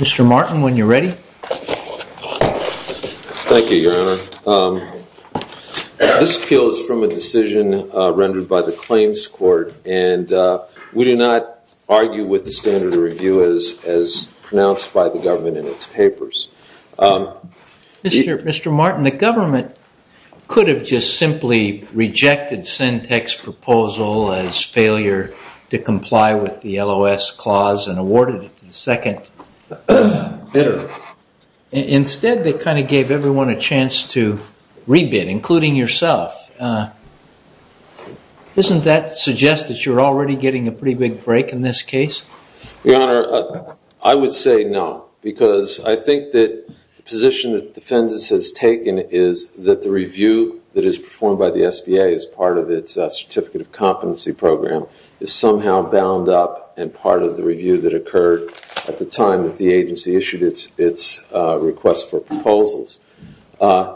Mr. Martin, when you're ready. Thank you, Your Honor. This appeal is from a decision rendered by the Claims Court, and we do not argue with the standard of review as pronounced by the government in its papers. Mr. Martin, the government could have just simply rejected Centech's proposal as failure to comply with the LOS clause and awarded it to the second bidder. Instead they kind of gave everyone a chance to re-bid, including yourself. Doesn't that suggest that you're already getting a pretty big break in this case? Your Honor, I would say no, because I think that the position that the defendant has taken is that the review that is performed by the SBA as part of its Certificate of Competency Program is somehow bound up and part of the review that occurred at the time that the agency issued its request for proposals. And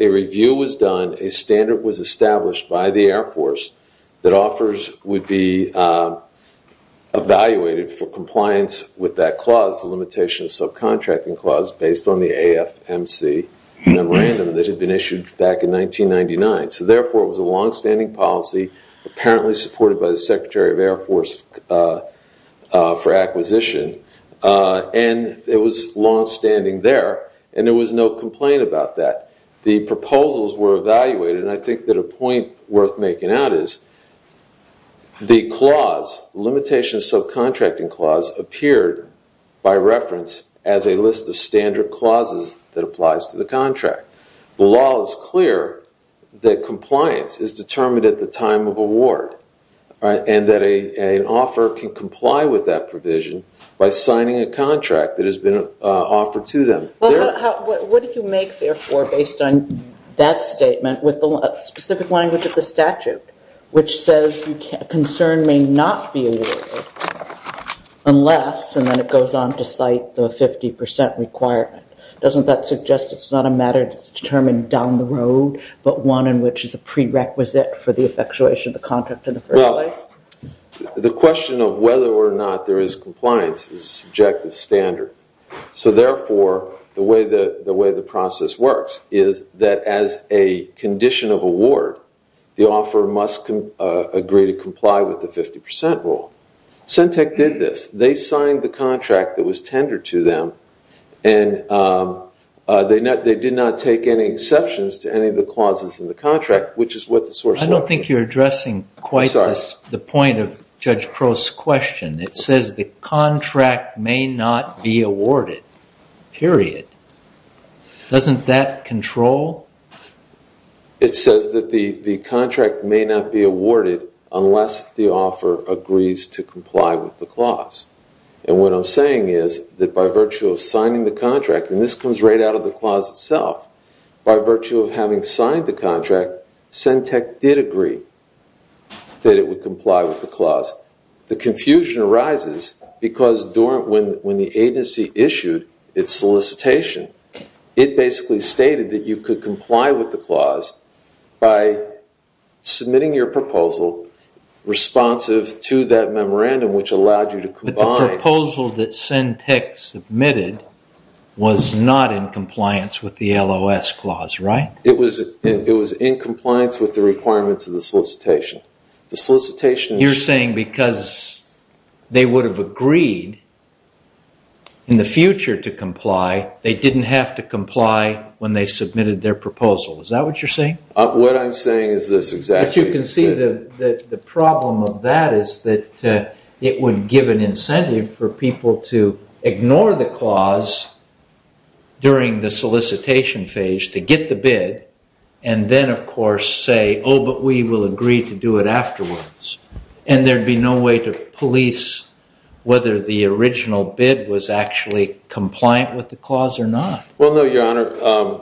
a review was done, a standard was established by the Air Force that offers would be evaluated for compliance with that clause, the Limitation of Subcontracting Clause, based on the AFMC memorandum that had been issued back in 1999. So therefore it was a longstanding policy, apparently supported by the Secretary of Air Force for acquisition, and it was longstanding there, and there was no complaint about that. The proposals were evaluated, and I think that a point worth making out is the clause, Limitation of Subcontracting Clause, appeared by reference as a list of standard clauses that applies to the contract. The law is clear that compliance is determined at the time of award, and that an offer can comply with that provision by signing a contract that has been offered to them. Well, what did you make, therefore, based on that statement with the specific language of the statute, which says concern may not be awarded unless, and then it goes on to say that it's not a matter that's determined down the road, but one in which is a prerequisite for the effectuation of the contract in the first place? The question of whether or not there is compliance is a subjective standard. So therefore, the way the process works is that as a condition of award, the offer must agree to comply with the 50% rule. SENTEC did this. They signed the contract that was tendered to them, and they did not take any exceptions to any of the clauses in the contract, which is what the source said. I don't think you're addressing quite the point of Judge Crow's question. It says the contract may not be awarded, period. Doesn't that control? It says that the contract may not be awarded unless the offer agrees to comply with the clause, and what I'm saying is that by virtue of signing the contract, and this comes right out of the clause itself, by virtue of having signed the contract, SENTEC did agree that it would comply with the clause. The confusion arises because when the agency issued its solicitation, it basically stated that you could comply with the clause by submitting your proposal responsive to that memorandum, which allowed you to comply. But the proposal that SENTEC submitted was not in compliance with the LOS clause, right? It was in compliance with the requirements of the solicitation. The solicitation... You're saying because they would have agreed in the future to comply, they didn't have to comply when they submitted their proposal. Is that what you're saying? What I'm saying is this exactly. But you can see that the problem of that is that it would give an incentive for people to ignore the clause during the solicitation phase to get the bid, and then of course say, oh, but we will agree to do it afterwards, and there'd be no way to police whether the original bid was actually compliant with the clause or not. Well, no, Your Honor.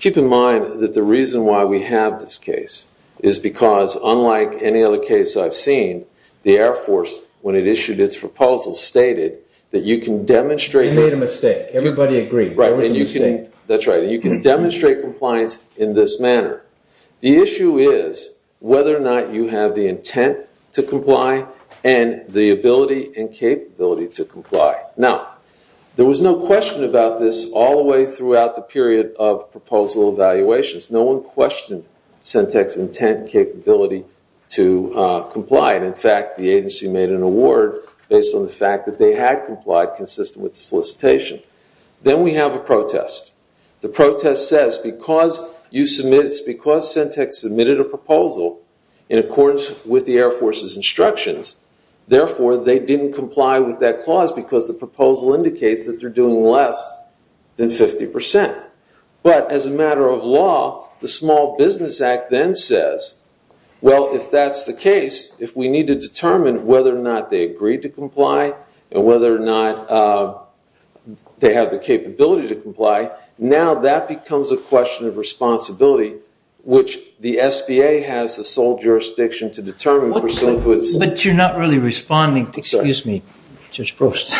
Keep in mind that the reason why we have this case is because unlike any other case I've seen, the Air Force, when it issued its proposal, stated that you can demonstrate... They made a mistake. Everybody agrees. Right. There was a mistake. That's right. You can demonstrate compliance in this manner. comply. Now, there was no question about this all the way throughout the period of proposal evaluations. No one questioned CENTEC's intent and capability to comply. In fact, the agency made an award based on the fact that they had complied consistent with the solicitation. Then we have a protest. The protest says because CENTEC submitted a proposal in accordance with the Air Force's proposal indicates that they're doing less than 50%. But as a matter of law, the Small Business Act then says, well, if that's the case, if we need to determine whether or not they agreed to comply and whether or not they have the capability to comply, now that becomes a question of responsibility, which the SBA has the sole jurisdiction to determine pursuant to its... But you're not really responding. Excuse me. Judge Proust.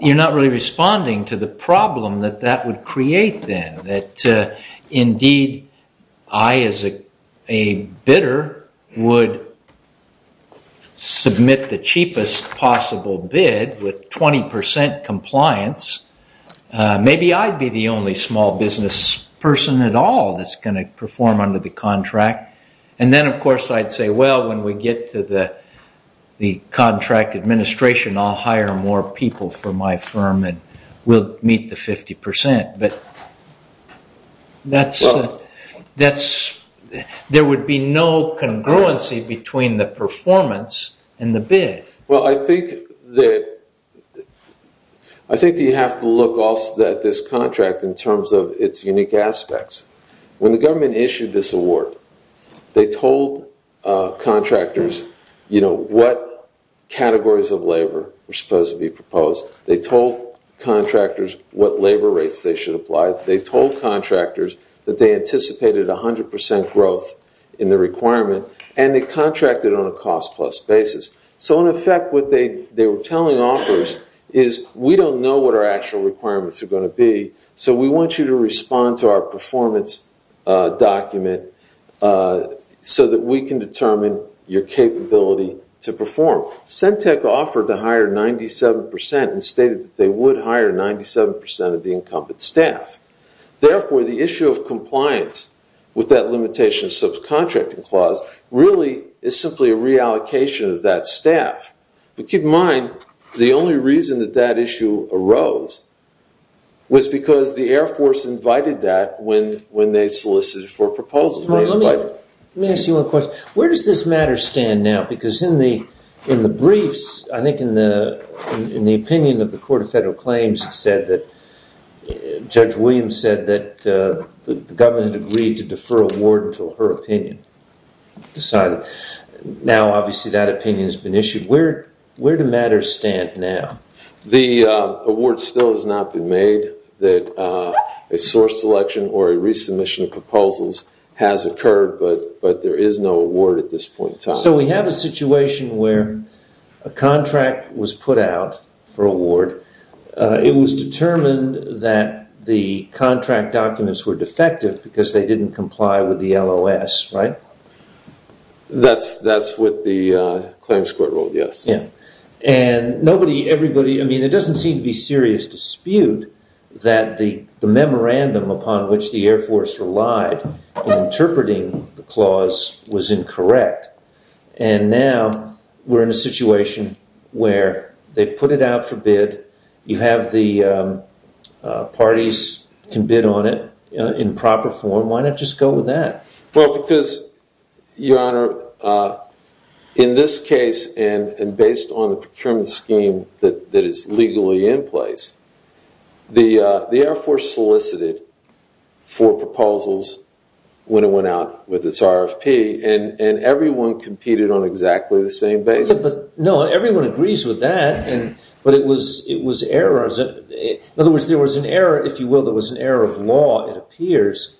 You're not really responding to the problem that that would create then, that indeed I as a bidder would submit the cheapest possible bid with 20% compliance. Maybe I'd be the only small business person at all that's going to perform under the contract. And then, of course, I'd say, well, when we get to the contract administration, I'll hire more people for my firm and we'll meet the 50%. But there would be no congruency between the performance and the bid. Well, I think that you have to look also at this contract in terms of its unique aspects. When the government issued this award, they told contractors what categories of labor were supposed to be proposed. They told contractors what labor rates they should apply. They told contractors that they anticipated 100% growth in the requirement. And they contracted on a cost plus basis. So in effect, what they were telling offers is, we don't know what our actual requirements are going to be. So we want you to respond to our performance document so that we can determine your capability to perform. Sentech offered to hire 97% and stated that they would hire 97% of the incumbent staff. Therefore, the issue of compliance with that limitation subcontracting clause really is simply a reallocation of that staff. But keep in mind, the only reason that that issue arose was because the Air Force invited that when they solicited for proposals. Martin, let me ask you one question. Where does this matter stand now? Because in the briefs, I think in the opinion of the Court of Federal Claims, it said that Judge Williams said that the government agreed to defer award until her opinion decided. Now, obviously, that opinion has been issued. Where do matters stand now? The award still has not been made. That a source selection or a resubmission of proposals has occurred, but there is no award at this point in time. So we have a situation where a contract was put out for award. It was determined that the contract documents were defective because they didn't comply with the LOS, right? That's what the claims court ruled, yes. Yeah. And nobody, everybody, I mean, there doesn't seem to be serious dispute that the memorandum upon which the Air Force relied in interpreting the clause was incorrect. And now we're in a situation where they put it out for bid. You have the parties can bid on it in proper form. Why not just go with that? Well, because, Your Honor, in this case, and based on the procurement scheme that is legally in place, the Air Force solicited four proposals when it went out with its RFP, and everyone competed on exactly the same basis. No, everyone agrees with that, but it was errors. In other words, there was an error, if you will, there was an error of law, it appears,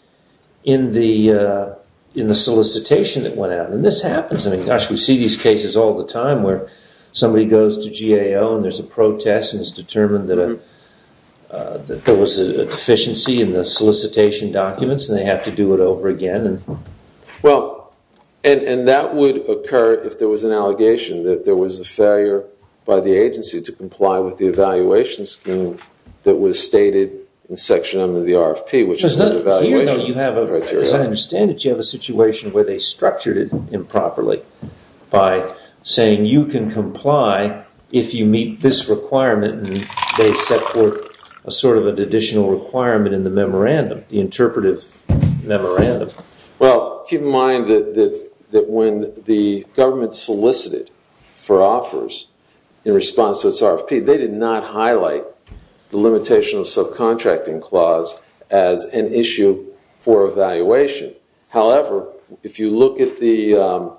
in the solicitation that went out. And this happens. I mean, gosh, we see these cases all the time where somebody goes to GAO and there's a protest and it's determined that there was a deficiency in the solicitation documents and they have to do it over again. Well, and that would occur if there was an allegation that there was a failure by the agency to comply with the evaluation scheme that was stated in Section M of the RFP, which is not... As I understand it, you have a situation where they structured it improperly by saying you can comply if you meet this requirement and they set forth a sort of additional requirement in the memorandum, the interpretive memorandum. Well, keep in mind that when the government solicited for offers in response to its RFP, they did not highlight the Limitation of Subcontracting Clause as an issue for evaluation. However, if you look at the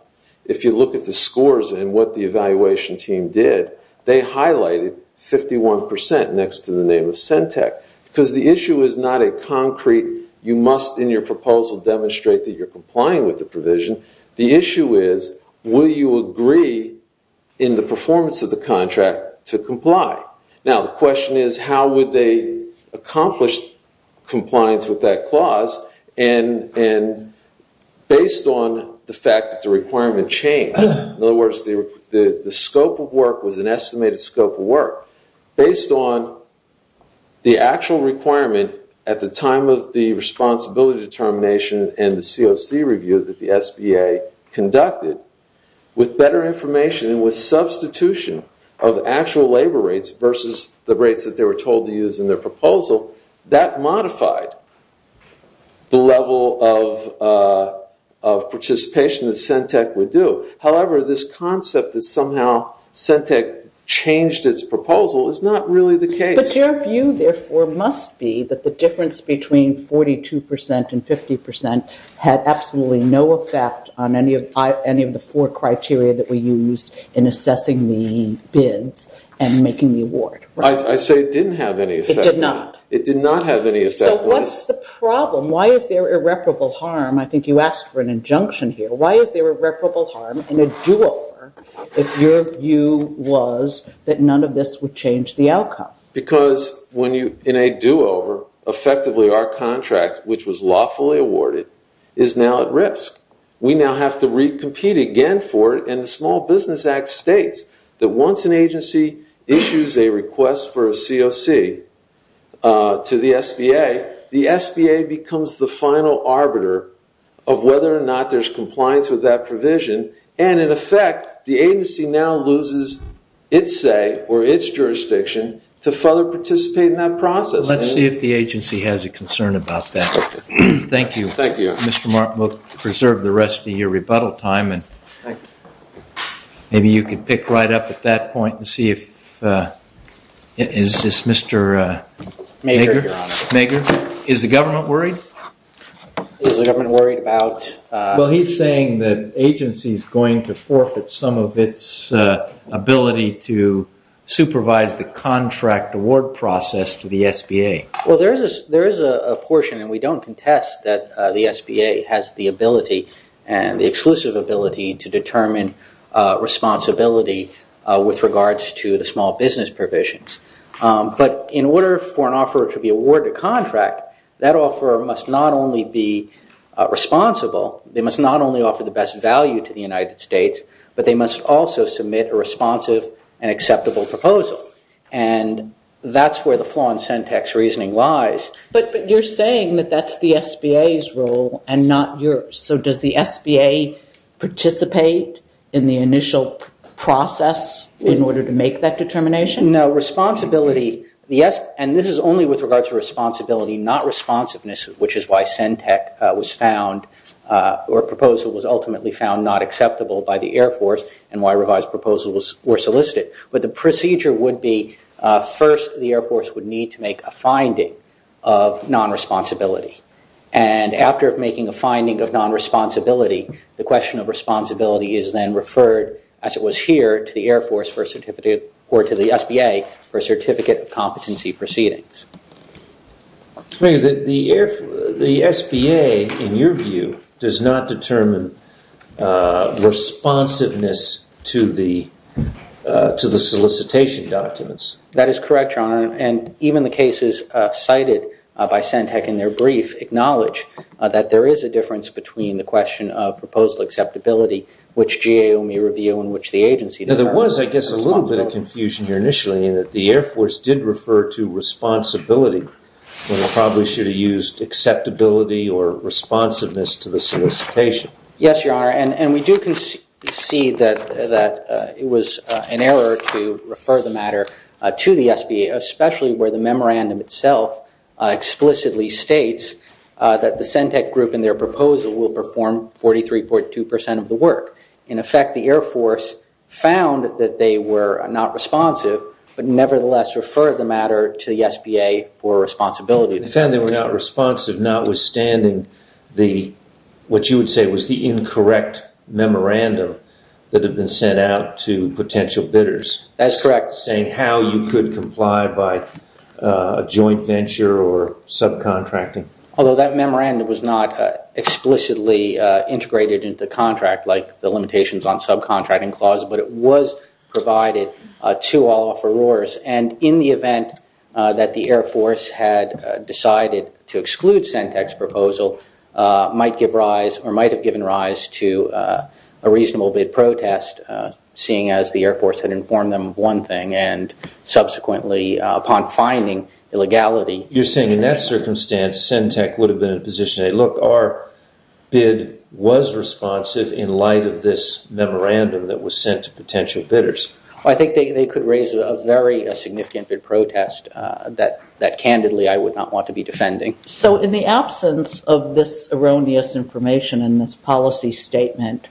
scores and what the evaluation team did, they highlighted 51% next to the name of SENTEC, because the issue is not a concrete, you must in your proposal demonstrate that you're complying with the provision. The issue is, will you agree in the performance of the contract to comply? Now, the question is, how would they accomplish compliance with that clause? And based on the fact that the requirement changed, in other words, the scope of work was an estimated scope of work, based on the actual requirement at the time of the responsibility determination and the COC review that the SBA conducted, with better information and with substitution of actual labor rates versus the rates that they were told to use in their proposal, that modified the level of participation that SENTEC would do. However, this concept that somehow SENTEC changed its proposal is not really the case. But your view, therefore, must be that the difference between 42% and 50% had absolutely no effect on any of the four criteria that we used in assessing the bids and making the award. I say it didn't have any effect. It did not. It did not have any effect. So what's the problem? Why is there irreparable harm? I think you asked for an injunction here. Why is there irreparable harm in a do-over if your view was that none of this would change the outcome? Because in a do-over, effectively our contract, which was lawfully awarded, is now at risk. We now have to compete again for it. And the Small Business Act states that once an agency issues a request for a COC to the SBA, the SBA becomes the final arbiter of whether or not there's compliance with that provision. And in effect, the agency now loses its say or its jurisdiction to further participate in that process. Let's see if the agency has a concern about that. Thank you. Thank you. Mr. Martin, we'll preserve the rest of your rebuttal time. And maybe you could pick right up at that point and see if, is this Mr. Mager, Your Honor. Mager. Is the government worried? Is the government worried about? Well, he's saying that agency is going to forfeit some of its ability to supervise the contract award process to the SBA. Well, there is a portion, and we don't contest that the SBA has the ability and the exclusive ability to determine responsibility with regards to the small business provisions. But in order for an offer to be awarded a contract, that offer must not only be responsible, they must not only offer the best value to the United States, but they must also submit a responsive and acceptable proposal. And that's where the flaw in Sentech's reasoning lies. But you're saying that that's the SBA's role and not yours. So does the SBA participate in the initial process in order to make that determination? No. Responsibility, and this is only with regards to responsibility, not responsiveness, which is why Sentech was found or proposal was ultimately found not acceptable by the Air Force and why revised proposals were solicited. But the procedure would be, first, the Air Force would need to make a finding of non-responsibility. And after making a finding of non-responsibility, the question of responsibility is then referred, as it was here, to the Air Force for a certificate or to the SBA for a certificate of competency proceedings. I mean, the SBA, in your view, does not determine responsiveness to the solicitation documents. That is correct, Your Honor. And even the cases cited by Sentech in their brief acknowledge that there is a difference between the question of proposal acceptability, which GAO may review, and which the agency does not. Now, there was, I guess, a little bit of confusion here initially in that the Air Force did refer to responsibility when it probably should have used acceptability or responsiveness to the solicitation. Yes, Your Honor. And we do concede that it was an error to refer the matter to the SBA, especially where the memorandum itself explicitly states that the Sentech group in their proposal will perform 43.2% of the work. In effect, the Air Force found that they were not responsive, but nevertheless referred the matter to the SBA for responsibility. They found they were not responsive, notwithstanding what you would say was the incorrect memorandum that had been sent out to potential bidders. That's correct. Saying how you could comply by a joint venture or subcontracting. Although that memorandum was not explicitly integrated into the contract, like the limitations on subcontracting clause, but it was provided to all offerors. And in the event that the Air Force had decided to exclude Sentech's proposal, might give rise or might have given rise to a reasonable bid protest, seeing as the Air Force had informed them of one thing and subsequently upon finding illegality. You're saying in that circumstance, Sentech would have been in a position to say, look, our bid was responsive in light of this memorandum that was sent to potential bidders. I think they could raise a very significant bid protest that candidly I would not want to be defending. So in the absence of this erroneous information in this policy statement,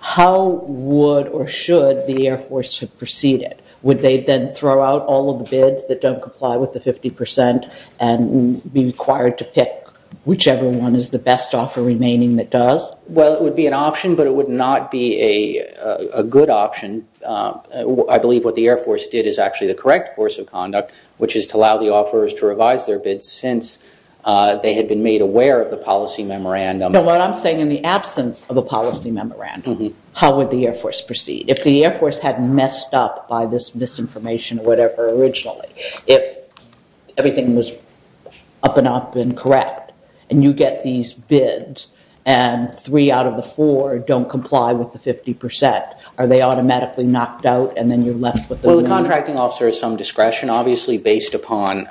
how would or should the Air Force have proceeded? Would they then throw out all of the bids that don't comply with the 50% and be required to pick whichever one is the best offer remaining that does? Well, it would be an option, but it would not be a good option. I believe what the Air Force did is actually the correct course of conduct, which is to allow the offerors to revise their bids since they had been made aware of the policy memorandum. What I'm saying in the absence of a policy memorandum, how would the Air Force proceed? If the Air Force had messed up by this misinformation or whatever originally, if everything was up and up and correct, and you get these bids, and three out of the four don't comply with the 50%, are they automatically knocked out and then you're left with the remaining- Well, the contracting officer has some discretion, obviously, based upon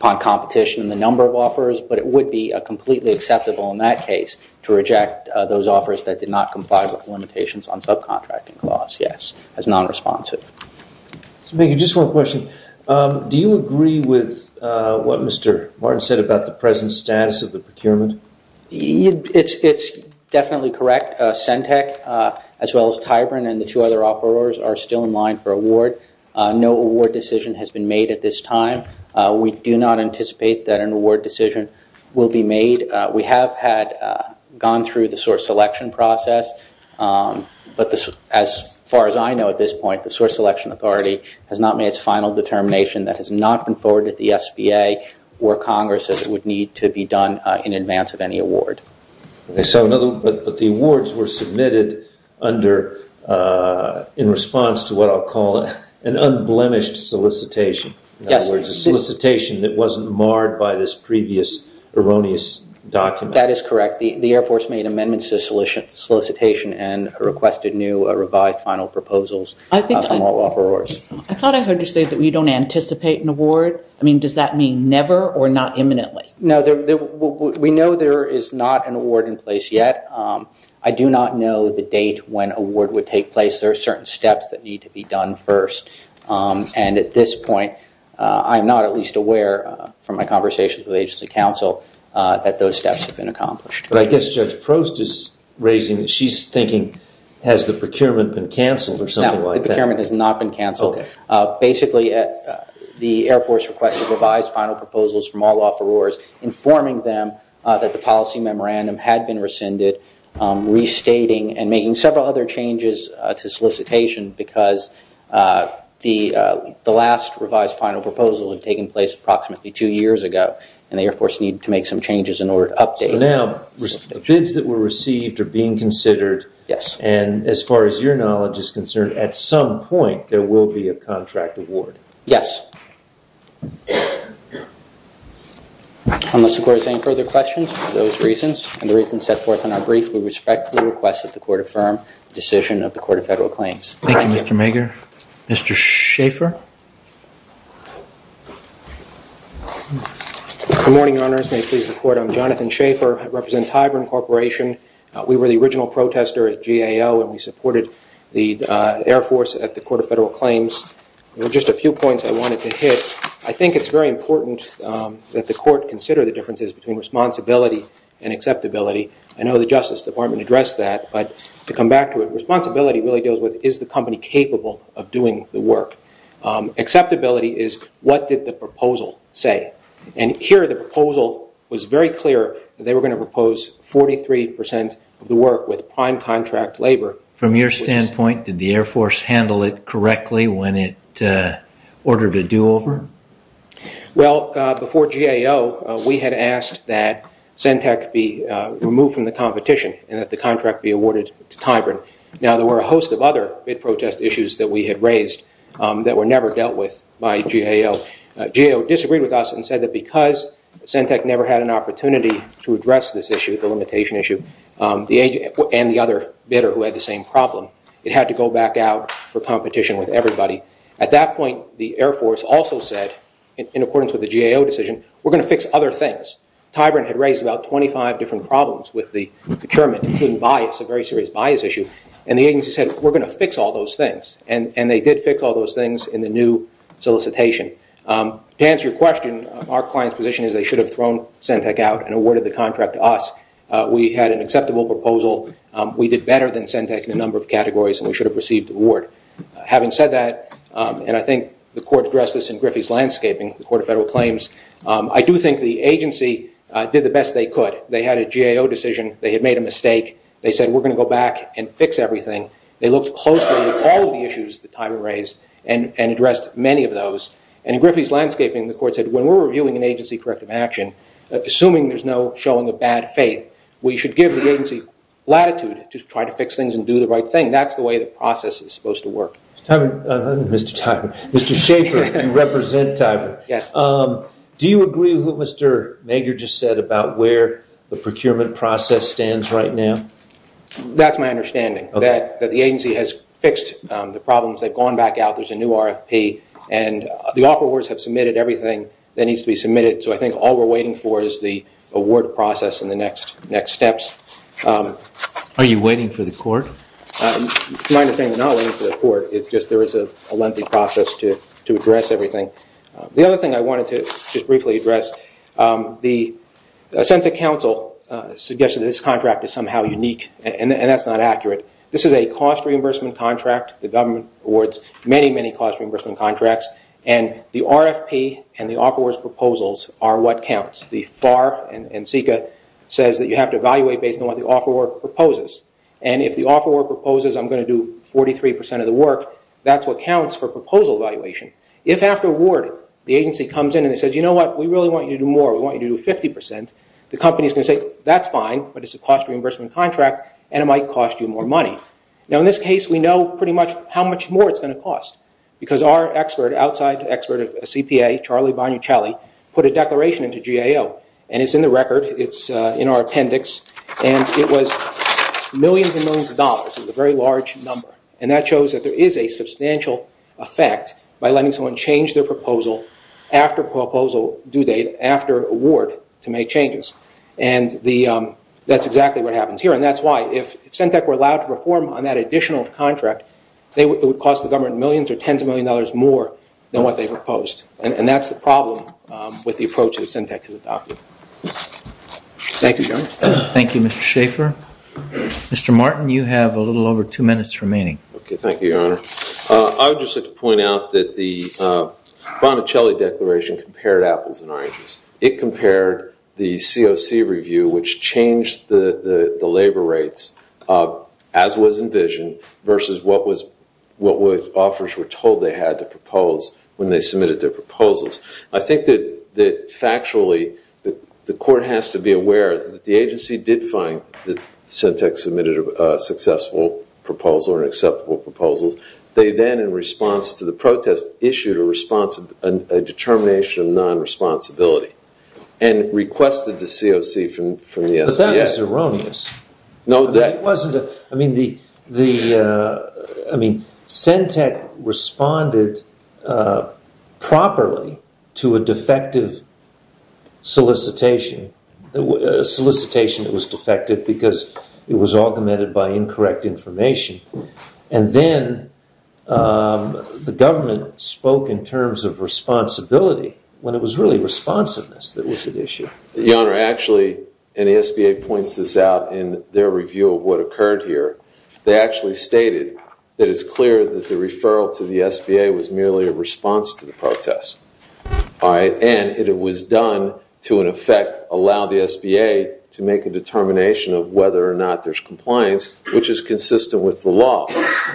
competition and the number of offerors, but it would be completely acceptable in that case to reject those offerors that did not comply with the limitations on subcontracting clause, yes, as non-responsive. Thank you. Just one question. Do you agree with what Mr. Martin said about the present status of the procurement? It's definitely correct. Centech, as well as Tyburn and the two other offerors are still in line for award. No award decision has been made at this time. We do not anticipate that an award decision will be made. We have had gone through the source selection process, but as far as I know at this point, the source selection authority has not made its final determination that has not been forwarded to the SBA or Congress as it would need to be done in advance of any award. But the awards were submitted in response to what I'll call an unblemished solicitation. In other words, a solicitation that wasn't marred by this previous erroneous document. That is correct. The Air Force made amendments to the solicitation and requested new revised final proposals. I thought I heard you say that we don't anticipate an award. I mean, does that mean never or not imminently? No, we know there is not an award in place yet. I do not know the date when award would take place. There are certain steps that need to be done first. And at this point, I'm not at least aware from my conversations with agency counsel that those steps have been accomplished. But I guess Judge Prost is raising, she's thinking has the procurement been canceled or something like that. The procurement has not been canceled. Basically, the Air Force requested revised final proposals from all offerors informing them that the policy memorandum had been rescinded, restating and making several other changes to solicitation because the last revised final proposal had taken place approximately two years ago and the Air Force needed to make some changes in order to update. Now, the bids that were received are being considered. Yes. And as far as your knowledge is concerned, at some point, there will be a contract award. Yes. Unless the court has any further questions for those reasons and the reasons set forth in our brief, we respectfully request that the court affirm the decision of the Court of Federal Claims. Thank you, Mr. Mager. Mr. Schaffer. Good morning, Your Honors. May it please the court, I'm Jonathan Schaffer. I represent Tyburn Corporation. We were the original protester at GAO and we supported the Air Force at the Court of Federal Claims. There were just a few points I wanted to hit. I think it's very important that the court consider the differences between responsibility and acceptability. I know the Justice Department addressed that, but to come back to it, responsibility really deals with, is the company capable of doing the work? Acceptability is, what did the proposal say? Here, the proposal was very clear that they were going to propose 43 percent of the work with prime contract labor. From your standpoint, did the Air Force handle it correctly when it ordered a do-over? Well, before GAO, we had asked that CENTAC be removed from the competition and that the contract be awarded to Tyburn. Now, there were a host of other bid protest issues that we had raised that were never dealt with by GAO. GAO disagreed with us and said that because CENTAC never had an opportunity to address this issue, the limitation issue, and the other bidder who had the same problem, it had to go back out for competition with everybody. At that point, the Air Force also said, in accordance with the GAO decision, we're going to fix other things. Tyburn had raised about 25 different problems with the procurement, including bias, a very serious bias issue, and the agency said, we're going to fix all those things. And they did fix all those things in the new solicitation. To answer your question, our client's position is they should have thrown CENTAC out and awarded the contract to us. We had an acceptable proposal. We did better than CENTAC in a number of categories, and we should have received the award. Having said that, and I think the Court addressed this in Griffey's landscaping, the Court of Federal Claims, I do think the agency did the best they could. They had a GAO decision. They had made a mistake. They said, we're going to go back and fix everything. They looked closely at all of the issues that Tyburn raised and addressed many of those. And in Griffey's landscaping, the Court said, when we're reviewing an agency corrective action, assuming there's no showing of bad faith, we should give the agency latitude to try to fix things and do the right thing. That's the way the process is supposed to work. Mr. Tyburn. Mr. Schaefer, you represent Tyburn. Yes. Do you agree with what Mr. Nagar just said about where the procurement process stands right now? That's my understanding, that the agency has fixed the problems. They've gone back out. There's a new RFP, and the offerors have submitted everything that needs to be submitted. So I think all we're waiting for is the award process and the next steps. Are you waiting for the Court? My understanding is not waiting for the Court. It's just there is a lengthy process to address everything. The other thing I wanted to just briefly address, the Ascension Council suggested this contract is somehow unique, and that's not accurate. This is a cost reimbursement contract. The government awards many, many cost reimbursement contracts, and the RFP and the offerors' proposals are what counts. The FAR and SECA says that you have to evaluate based on what the offeror proposes, and if the offeror proposes, I'm going to do 43% of the work, that's what counts for proposal evaluation. If after award, the agency comes in and says, you know what? We really want you to do more. We want you to do 50%. The company is going to say, that's fine, but it's a cost reimbursement contract, and it might cost you more money. Now, in this case, we know pretty much how much more it's going to cost, because our expert, outside expert of CPA, Charlie Bonuccelli, put a declaration into GAO, and it's in the record. It's in our appendix, and it was millions and millions of dollars. It's a very large number, and that shows that there is a substantial effect by letting change their proposal after proposal due date, after award, to make changes. That's exactly what happens here, and that's why, if Sentech were allowed to perform on that additional contract, it would cost the government millions or tens of millions of dollars more than what they proposed, and that's the problem with the approach that Sentech has adopted. Thank you, General. Thank you, Mr. Schaffer. Mr. Martin, you have a little over two minutes remaining. Okay, thank you, Your Honor. I would just like to point out that the Bonuccelli declaration compared apples and oranges. It compared the COC review, which changed the labor rates, as was envisioned, versus what offers were told they had to propose when they submitted their proposals. I think that, factually, the court has to be aware that the agency did find that Sentech submitted a successful proposal or acceptable proposals. They then, in response to the protest, issued a determination of non-responsibility and requested the COC from the SBA. But that was erroneous. No, that wasn't. Sentech responded properly to a defective solicitation. A solicitation that was defective because it was augmented by incorrect information. And then the government spoke in terms of responsibility when it was really responsiveness that was at issue. Your Honor, actually, and the SBA points this out in their review of what occurred here, they actually stated that it's clear that the referral to the SBA was merely a response to the protest. All right? And it was done to, in effect, allow the SBA to make a determination of whether or not there's compliance, which is consistent with the law.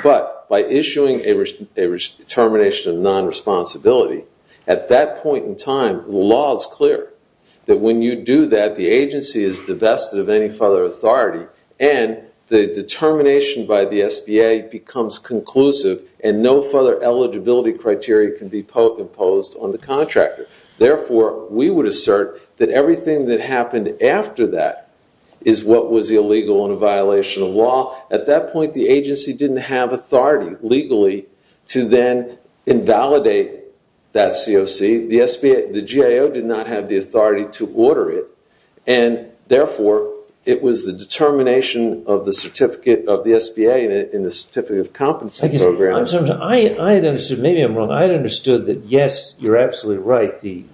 But by issuing a determination of non-responsibility, at that point in time, the law is clear that when you do that, the agency is divested of any further authority and the determination by the SBA becomes conclusive and no further eligibility criteria can be imposed on the contractor. Therefore, we would assert that everything that happened after that is what was illegal in a violation of law. At that point, the agency didn't have authority legally to then invalidate that COC. The SBA, the GAO did not have the authority to order it. And therefore, it was the determination of the certificate of the SBA in the Certificate of Compensation Program. Thank you, sir. I had understood, maybe I'm wrong, I had understood that, yes, you're absolutely right, the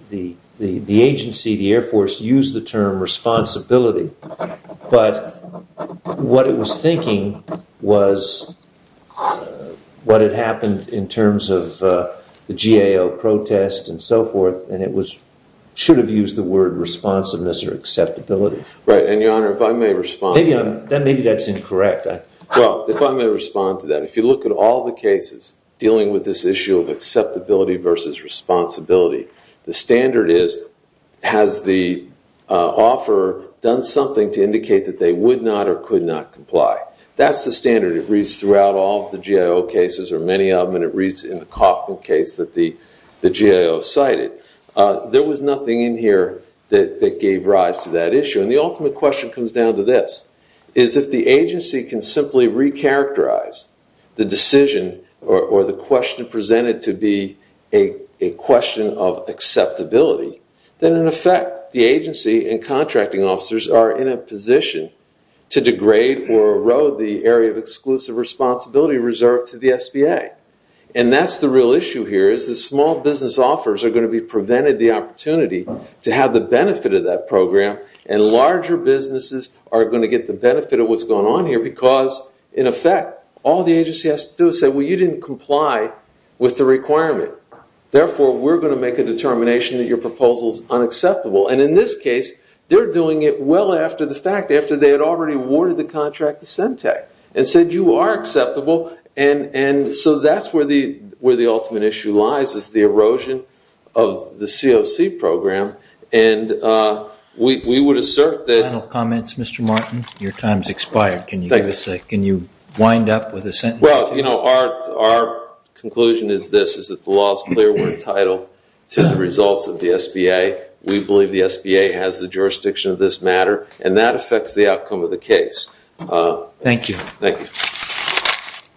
agency, the Air Force, used the term responsibility. But what it was thinking was what had happened in terms of the GAO protest and so forth, and it should have used the word responsiveness or acceptability. Right, and Your Honor, if I may respond to that. Maybe that's incorrect. Well, if I may respond to that, if you look at all the cases dealing with this issue of acceptability versus responsibility, the standard is, has the offeror done something to indicate that they would not or could not comply? That's the standard. It reads throughout all the GAO cases, or many of them, and it reads in the Coffman case that the GAO cited. There was nothing in here that gave rise to that issue. And the ultimate question comes down to this, is if the agency can simply recharacterize the decision or the question presented to be a question of acceptability, then in effect, the agency and contracting officers are in a position to degrade or erode the area of exclusive responsibility reserved to the SBA. And that's the real issue here, is the small business offers are going to be prevented the opportunity to have the benefit of that program, and larger businesses are going to get the benefit of what's going on here because, in effect, all the agency has to do is say, well, you didn't comply with the requirement. Therefore, we're going to make a determination that your proposal is unacceptable. And in this case, they're doing it well after the fact, after they had already awarded the where the ultimate issue lies is the erosion of the COC program. And we would assert that- Final comments, Mr. Martin? Your time's expired. Can you give us a- Can you wind up with a sentence? Well, our conclusion is this, is that the law is clear. We're entitled to the results of the SBA. We believe the SBA has the jurisdiction of this matter, and that affects the outcome of the case. Thank you. Thank you.